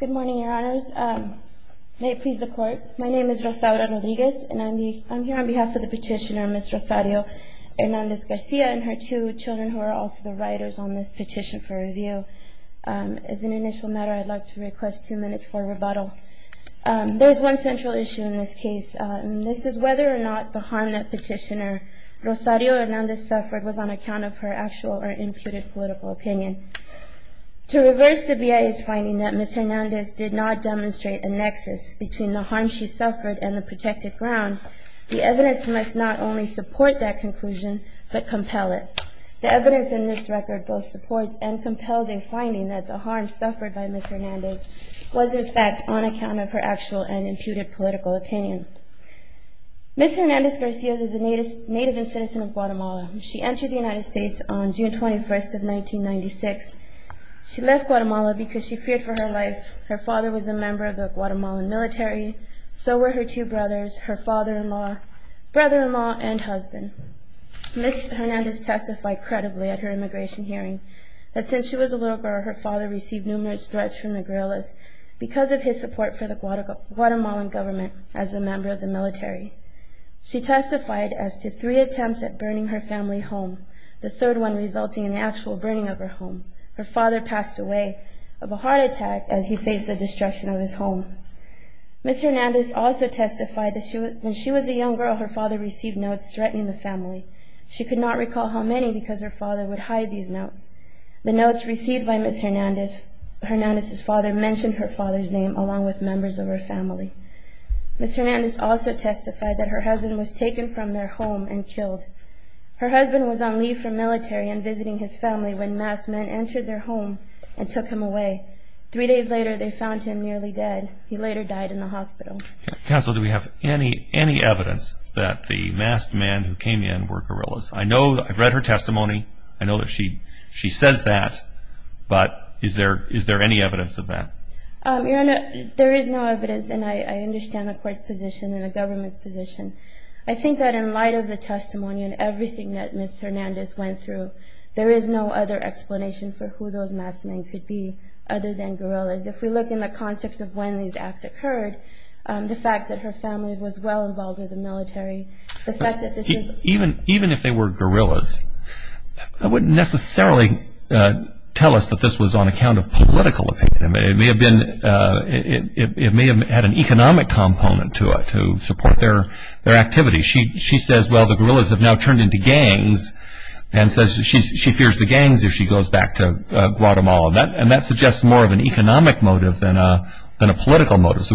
Good morning, Your Honors. May it please the Court, my name is Rosario Rodriguez, and I'm here on behalf of the petitioner, Ms. Rosario Hernandez Garcia, and her two children, who are also the writers on this petition for review. As an initial matter, I'd like to request two minutes for rebuttal. There is one central issue in this case, and this is whether or not the harm that petitioner Rosario Hernandez suffered was on account of her actual or imputed political opinion. To reverse the BIA's finding that Ms. Hernandez did not demonstrate a nexus between the harm she suffered and the protected ground, the evidence must not only support that conclusion, but compel it. The evidence in this record both supports and compels a finding that the harm suffered by Ms. Hernandez was, in fact, on account of her actual and imputed political opinion. Ms. Hernandez Garcia is a native and citizen of Guatemala. She entered the United States on June 21, 1996. She left Guatemala because she feared for her life. Her father was a member of the Guatemalan military, so were her two brothers, her father-in-law, brother-in-law, and husband. Ms. Hernandez testified credibly at her immigration hearing that since she was a little girl, her father received numerous threats from the guerrillas because of his support for the Guatemalan government as a member of the military. She testified as to three attempts at burning her family home, the third one resulting in the actual burning of her home. Her father passed away of a heart attack as he faced the destruction of his home. Ms. Hernandez also testified that when she was a young girl, her father received notes threatening the family. She could not recall how many because her father would hide these notes. The notes received by Ms. Hernandez's father mentioned her father's name along with members of her family. Ms. Hernandez also testified that her husband was taken from their home and killed. Her husband was on leave from military and visiting his family when mass men entered their home and took him away. Three days later, they found him nearly dead. He later died in the hospital. Counsel, do we have any evidence that the mass men who came in were guerrillas? I've read her testimony. I know that she says that, but is there any evidence of that? There is no evidence, and I understand the court's position and the government's position. I think that in light of the testimony and everything that Ms. Hernandez went through, there is no other explanation for who those mass men could be other than guerrillas. If we look in the context of when these acts occurred, the fact that her family was well involved with the military, the fact that this is even if they were guerrillas, that wouldn't necessarily tell us that this was on account of political opinion. It may have had an economic component to it to support their activities. She says, well, the guerrillas have now turned into gangs, and says she fears the gangs if she goes back to Guatemala, and that suggests more of an economic motive than a political motive.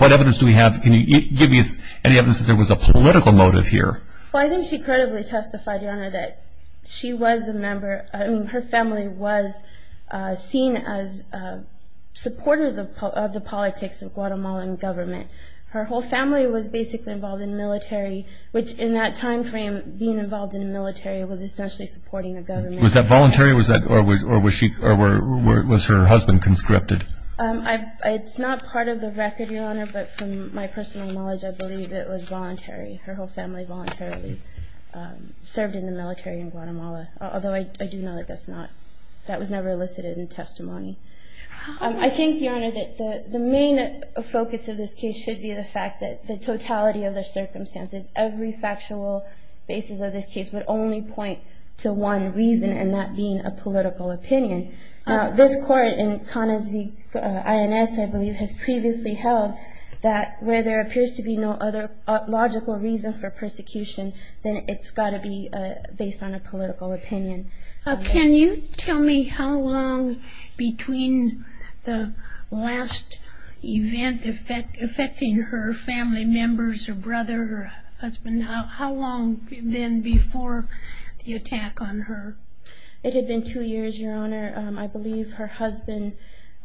What evidence do we have? Can you give me any evidence that there was a political motive here? Well, I think she credibly testified, Your Honor, that she was a member. I mean, her family was seen as supporters of the politics of Guatemalan government. Her whole family was basically involved in the military, which in that time frame, being involved in the military was essentially supporting the government. Was that voluntary, or was her husband conscripted? It's not part of the record, Your Honor, but from my personal knowledge, I believe it was voluntary. Her whole family voluntarily served in the military in Guatemala, although I do know that that was never elicited in testimony. I think, Your Honor, that the main focus of this case should be the fact that the totality of the circumstances, every factual basis of this case, would only point to one reason, and that being a political opinion. This court, in Connors v. INS, I believe, has previously held that where there appears to be no other logical reason for persecution, then it's got to be based on a political opinion. Can you tell me how long between the last event affecting her family members, her brother, her husband, how long then before the attack on her? It had been two years, Your Honor. I believe her husband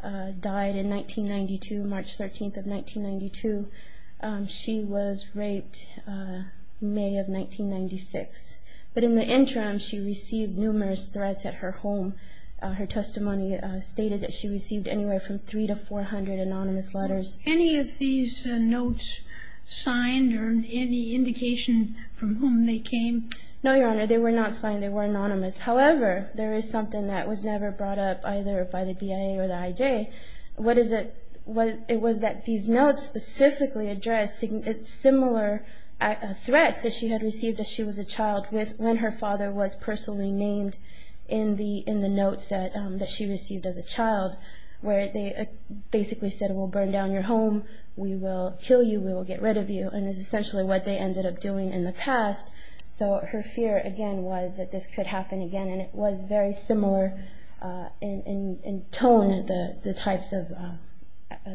died in 1992, March 13th of 1992. She was raped May of 1996. But in the interim, she received numerous threats at her home. Her testimony stated that she received anywhere from three to four hundred anonymous letters. Were any of these notes signed, or any indication from whom they came? No, Your Honor. They were not signed. They were anonymous. However, there is something that was never brought up either by the BIA or the IJ. It was that these notes specifically addressed similar threats that she had received as she was a child when her father was personally named in the notes that she received as a child, where they basically said, well, burn down your home, we will kill you, we will get rid of you, and is essentially what they ended up doing in the past. So her fear, again, was that this could happen again. And it was very similar in tone, the types of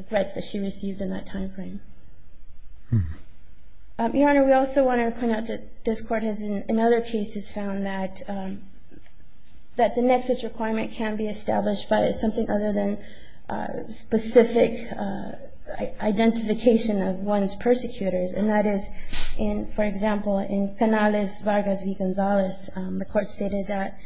threats that she received in that time frame. Your Honor, we also want to point out that this Court has in other cases found that the nexus requirement can be established by something other than specific identification of one's persecutors, and that is, for example, in Canales-Vargas v. Gonzalez, the Court stated that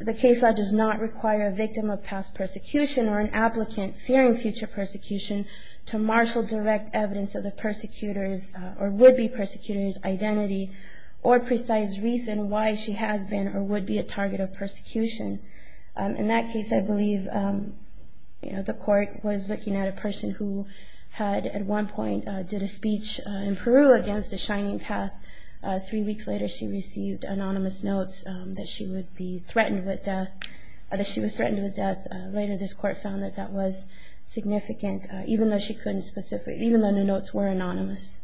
the case law does not require a victim of past persecution or an applicant fearing future persecution to marshal direct evidence of the persecutor's or would-be persecutor's identity or precise reason why she has been or would be a target of persecution. In that case, I believe, you know, the Court was looking at a person who had at one point did a speech in Peru against the Shining Path. Three weeks later, she received anonymous notes that she would be threatened with death, that she was threatened with death. Later, this Court found that that was significant, even though she couldn't specify, even though the notes were anonymous.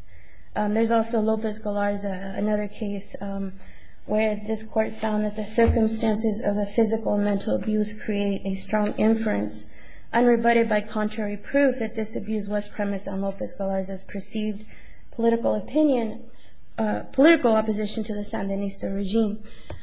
There's also Lopez-Golarza, another case where this Court found that the circumstances of a physical mental abuse create a strong inference, unrebutted by contrary proof that this abuse was premised on Lopez-Golarza's perceived political opinion, political opposition to the Sandinista regime.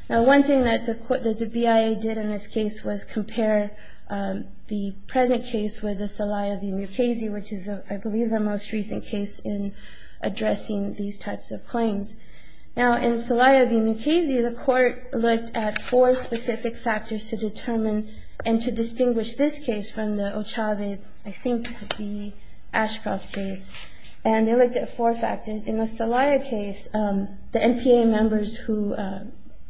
Now, one thing that the BIA did in this case was compare the present case with the Salaya v. Mukasey, which is, I believe, the most recent case in addressing these types of claims. Now, in Salaya v. Mukasey, the Court looked at four specific factors to determine and to distinguish this case from the Ochavez, I think the Ashcroft case, and they looked at four factors. In the Salaya case, the NPA members who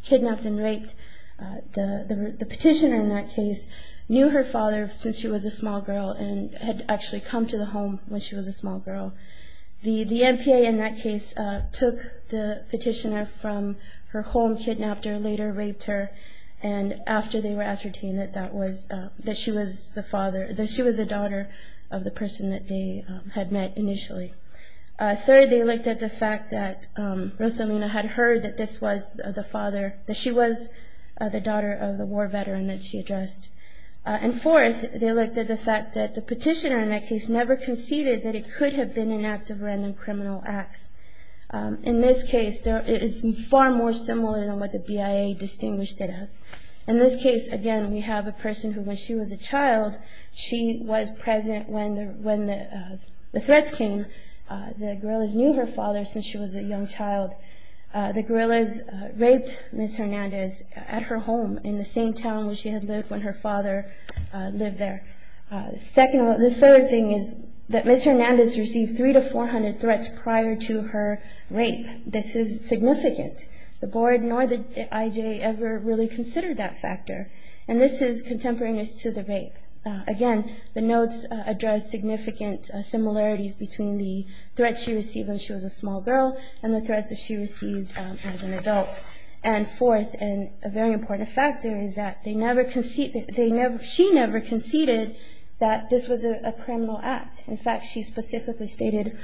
kidnapped and raped the petitioner in that case knew her father since she was a small girl and had actually come to the home when she was a small girl. The NPA in that case took the petitioner from her home, kidnapped her, later raped her, and after they were ascertained that she was the daughter of the person that they had met initially. Third, they looked at the fact that Rosalina had heard that she was the daughter of the war veteran that she addressed. And fourth, they looked at the fact that the petitioner in that case never conceded that it could have been an act of random criminal acts. In this case, it's far more similar than what the BIA distinguished it as. In this case, again, we have a person who, when she was a child, she was present when the threats came. The guerrillas knew her father since she was a young child. The guerrillas raped Ms. Hernandez at her home in the same town where she had lived when her father lived there. The third thing is that Ms. Hernandez received 300 to 400 threats prior to her rape. This is significant. The board nor the IJ ever really considered that factor. And this is contemporaneous to the rape. Again, the notes address significant similarities between the threats she received when she was a small girl and the threats that she received as an adult. And fourth, and a very important factor, is that she never conceded that this was a criminal act. In fact, she specifically stated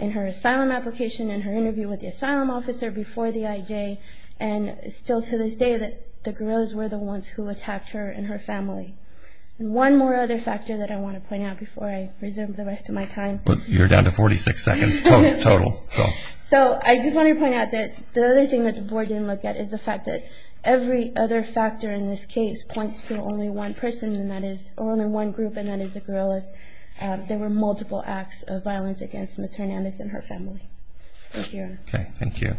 in her asylum application, in her interview with the asylum officer before the IJ, and still to this day that the guerrillas were the ones who attacked her and her family. One more other factor that I want to point out before I reserve the rest of my time. You're down to 46 seconds total. So I just want to point out that the other thing that the board didn't look at is the fact that every other factor in this case points to only one person, or only one group, and that is the guerrillas. There were multiple acts of violence against Ms. Hernandez and her family. Thank you, Your Honor. Thank you.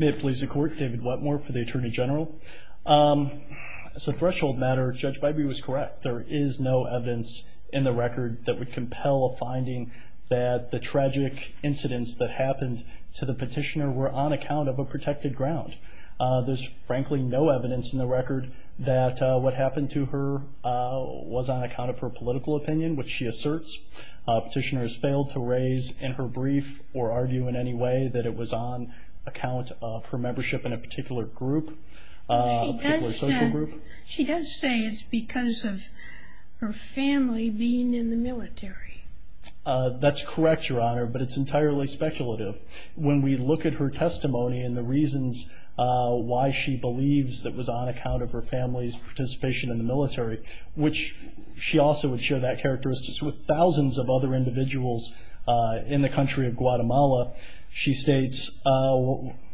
May it please the Court, David Wetmore for the Attorney General. As a threshold matter, Judge Bybee was correct. There is no evidence in the record that would compel a finding that the tragic incidents that happened to the petitioner were on account of a protected ground. There's frankly no evidence in the record that what happened to her was on account of her political opinion, which she asserts. Petitioners failed to raise in her brief or argue in any way that it was on account of her membership in a particular group, a particular social group. She does say it's because of her family being in the military. That's correct, Your Honor, but it's entirely speculative. When we look at her testimony and the reasons why she believes it was on account of her family's in the military, which she also would share that characteristic with thousands of other individuals in the country of Guatemala, she states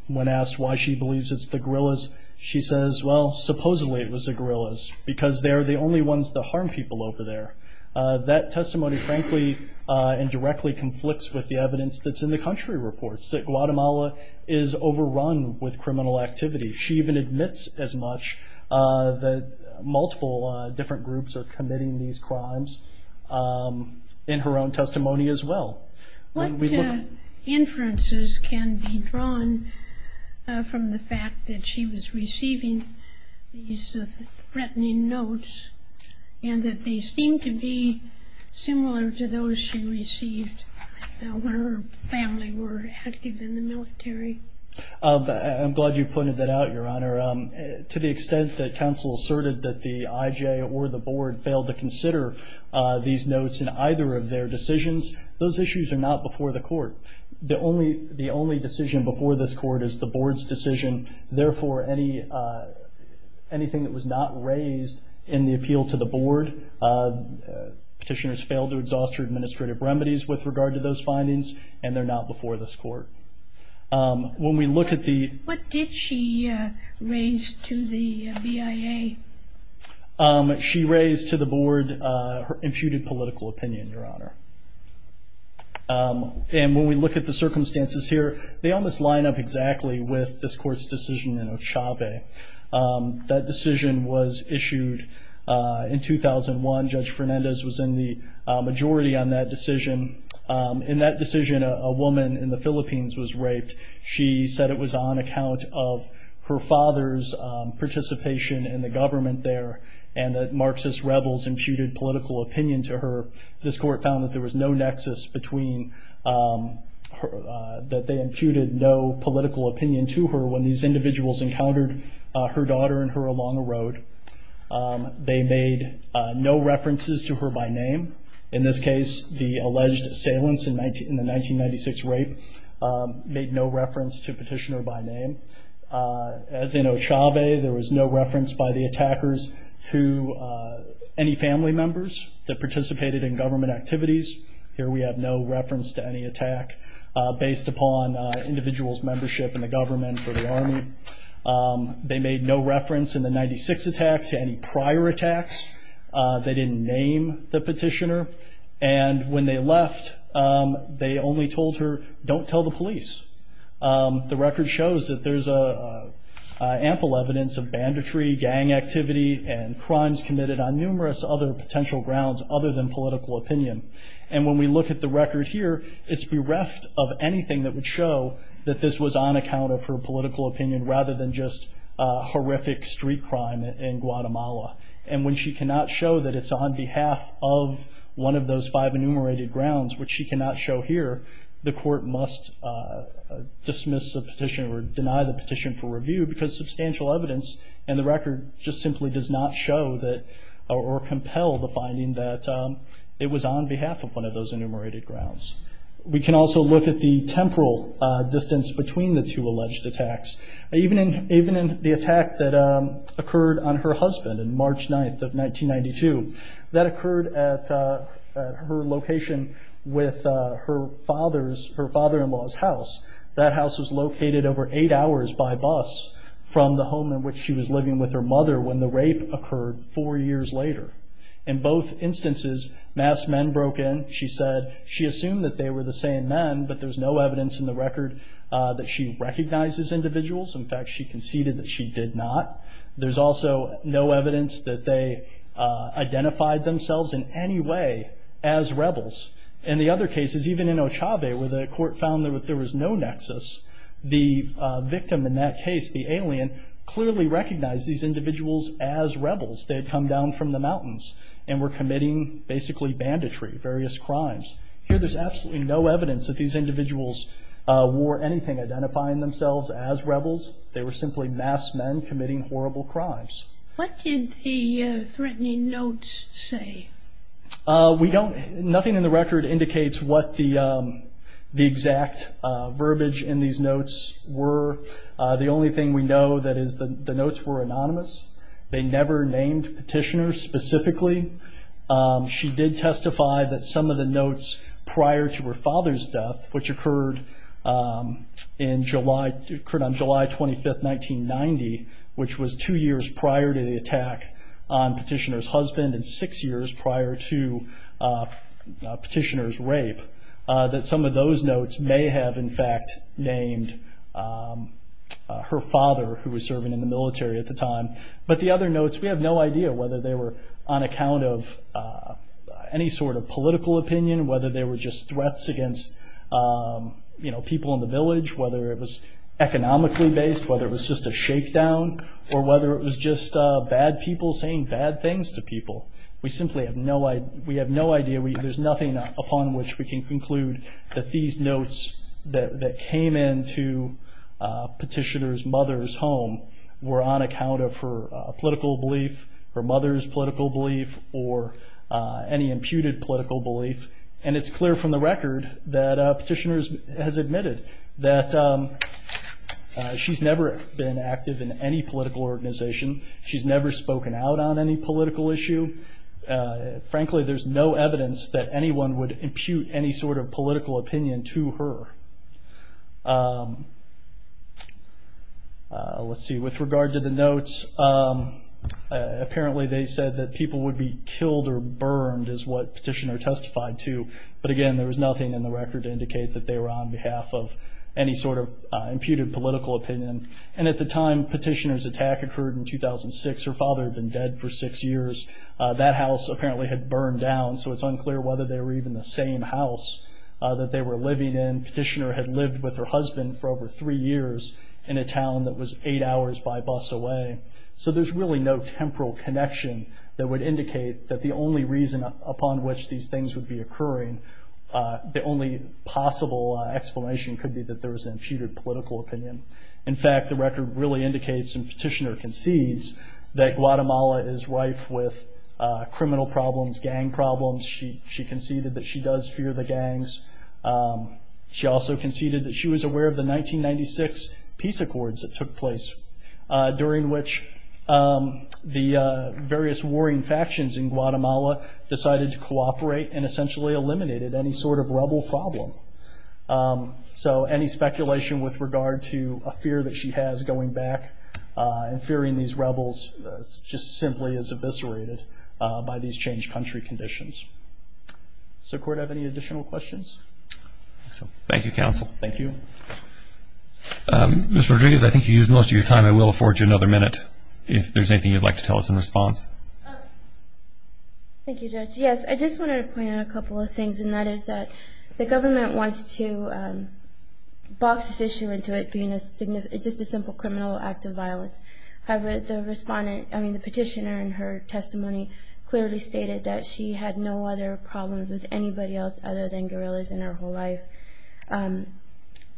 when asked why she believes it's the guerrillas, she says, well, supposedly it was the guerrillas because they're the only ones to harm people over there. That testimony frankly and directly conflicts with the evidence that's in the country reports, that Guatemala is overrun with criminal activity. She even admits as much that multiple different groups are committing these crimes in her own testimony as well. What inferences can be drawn from the fact that she was receiving these threatening notes and that they seem to be similar to those she received when her family were active in the military? I'm glad you pointed that out, Your Honor. To the extent that counsel asserted that the IJ or the board failed to consider these notes in either of their decisions, those issues are not before the court. The only decision before this court is the board's decision. Therefore, anything that was not raised in the appeal to the board, petitioners failed to exhaust her administrative remedies with regard to those findings, and they're not before this court. What did she raise to the BIA? She raised to the board her imputed political opinion, Your Honor. And when we look at the circumstances here, they almost line up exactly with this court's decision in Ochave. That decision was issued in 2001. Judge Fernandez was in the majority on that decision. In that decision, a woman in the Philippines was raped. She said it was on account of her father's participation in the government there and that Marxist rebels imputed political opinion to her. This court found that there was no nexus between that they imputed no political opinion to her when these individuals encountered her daughter and her along the road. They made no references to her by name. In this case, the alleged assailants in the 1996 rape made no reference to petitioner by name. As in Ochave, there was no reference by the attackers to any family members that participated in government activities. Here we have no reference to any attack based upon individuals' membership in the government or the army. They made no reference in the 1996 attack to any prior attacks. They didn't name the petitioner. And when they left, they only told her, don't tell the police. The record shows that there's ample evidence of banditry, gang activity, and crimes committed on numerous other potential grounds other than political opinion. And when we look at the record here, it's bereft of anything that would show that this was on account of her political opinion rather than just horrific street crime in Guatemala. And when she cannot show that it's on behalf of one of those five enumerated grounds, which she cannot show here, the court must dismiss the petition or deny the petition for review because substantial evidence in the record just simply does not show or compel the finding that it was on behalf of one of those enumerated grounds. We can also look at the temporal distance between the two alleged attacks. Even in the attack that occurred on her husband on March 9th of 1992, that occurred at her location with her father-in-law's house. That house was located over eight hours by bus from the home in which she was living with her mother when the rape occurred four years later. In both instances, masked men broke in. She said she assumed that they were the same men, but there's no evidence in the record that she recognizes individuals. In fact, she conceded that she did not. There's also no evidence that they identified themselves in any way as rebels. In the other cases, even in Ochave, where the court found that there was no nexus, the victim in that case, the alien, clearly recognized these individuals as rebels. They had come down from the mountains and were committing basically banditry, various crimes. Here there's absolutely no evidence that these individuals wore anything identifying themselves as rebels. They were simply masked men committing horrible crimes. What did the threatening notes say? Nothing in the record indicates what the exact verbiage in these notes were. The only thing we know is that the notes were anonymous. They never named petitioners specifically. She did testify that some of the notes prior to her father's death, which occurred on July 25, 1990, which was two years prior to the attack on petitioner's husband and six years prior to petitioner's rape, that some of those notes may have, in fact, named her father, who was serving in the military at the time. But the other notes, we have no idea whether they were on account of any sort of political opinion, whether they were just threats against people in the village, whether it was economically based, whether it was just a shakedown, or whether it was just bad people saying bad things to people. We have no idea. There's nothing upon which we can conclude that these notes that came into petitioner's mother's home were on account of her political belief, her mother's political belief, or any imputed political belief. And it's clear from the record that petitioner has admitted that she's never been active in any political organization. She's never spoken out on any political issue. Frankly, there's no evidence that anyone would impute any sort of political opinion to her. Apparently, they said that people would be killed or burned is what petitioner testified to. But again, there was nothing in the record to indicate that they were on behalf of any sort of imputed political opinion. And at the time petitioner's attack occurred in 2006, her father had been dead for six years. That house apparently had burned down, so it's unclear whether they were even the same house that they were living in. Petitioner had lived with her husband for over three years in a town that was eight hours by bus away. So there's really no temporal connection that would indicate that the only reason upon which these things would be occurring, the only possible explanation could be that there was an imputed political opinion. In fact, the record really indicates, and petitioner concedes, that Guatemala is rife with criminal problems, gang problems. She conceded that she does fear the gangs. She also conceded that she was aware of the 1996 peace accords that took place during which the various warring factions in Guatemala decided to cooperate and essentially eliminated any sort of rebel problem. So any speculation with regard to a fear that she has going back and fearing these rebels just simply is eviscerated by these changed country conditions. Does the court have any additional questions? Thank you, counsel. Thank you. Ms. Rodriguez, I think you used most of your time. I will afford you another minute if there's anything you'd like to tell us in response. Thank you, Judge. Yes, I just wanted to point out a couple of things, and that is that the government wants to box this issue into it being just a simple criminal act of violence. However, the petitioner in her testimony clearly stated that she had no other problems with anybody else other than guerrillas in her whole life.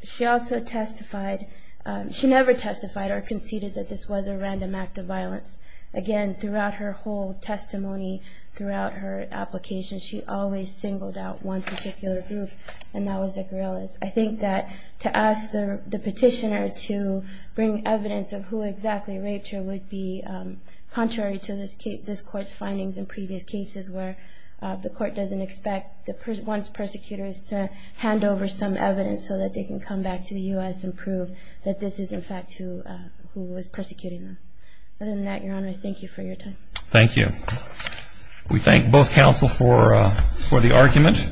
She never testified or conceded that this was a random act of violence. Again, throughout her whole testimony, throughout her application, she always singled out one particular group, and that was the guerrillas. I think that to ask the petitioner to bring evidence of who exactly raped her would be contrary to this court's findings in previous cases where the court doesn't expect one's persecutors to hand over some evidence so that they can come back to the U.S. and prove that this is, in fact, who was persecuting them. Other than that, Your Honor, thank you for your time. Thank you. We thank both counsel for the argument.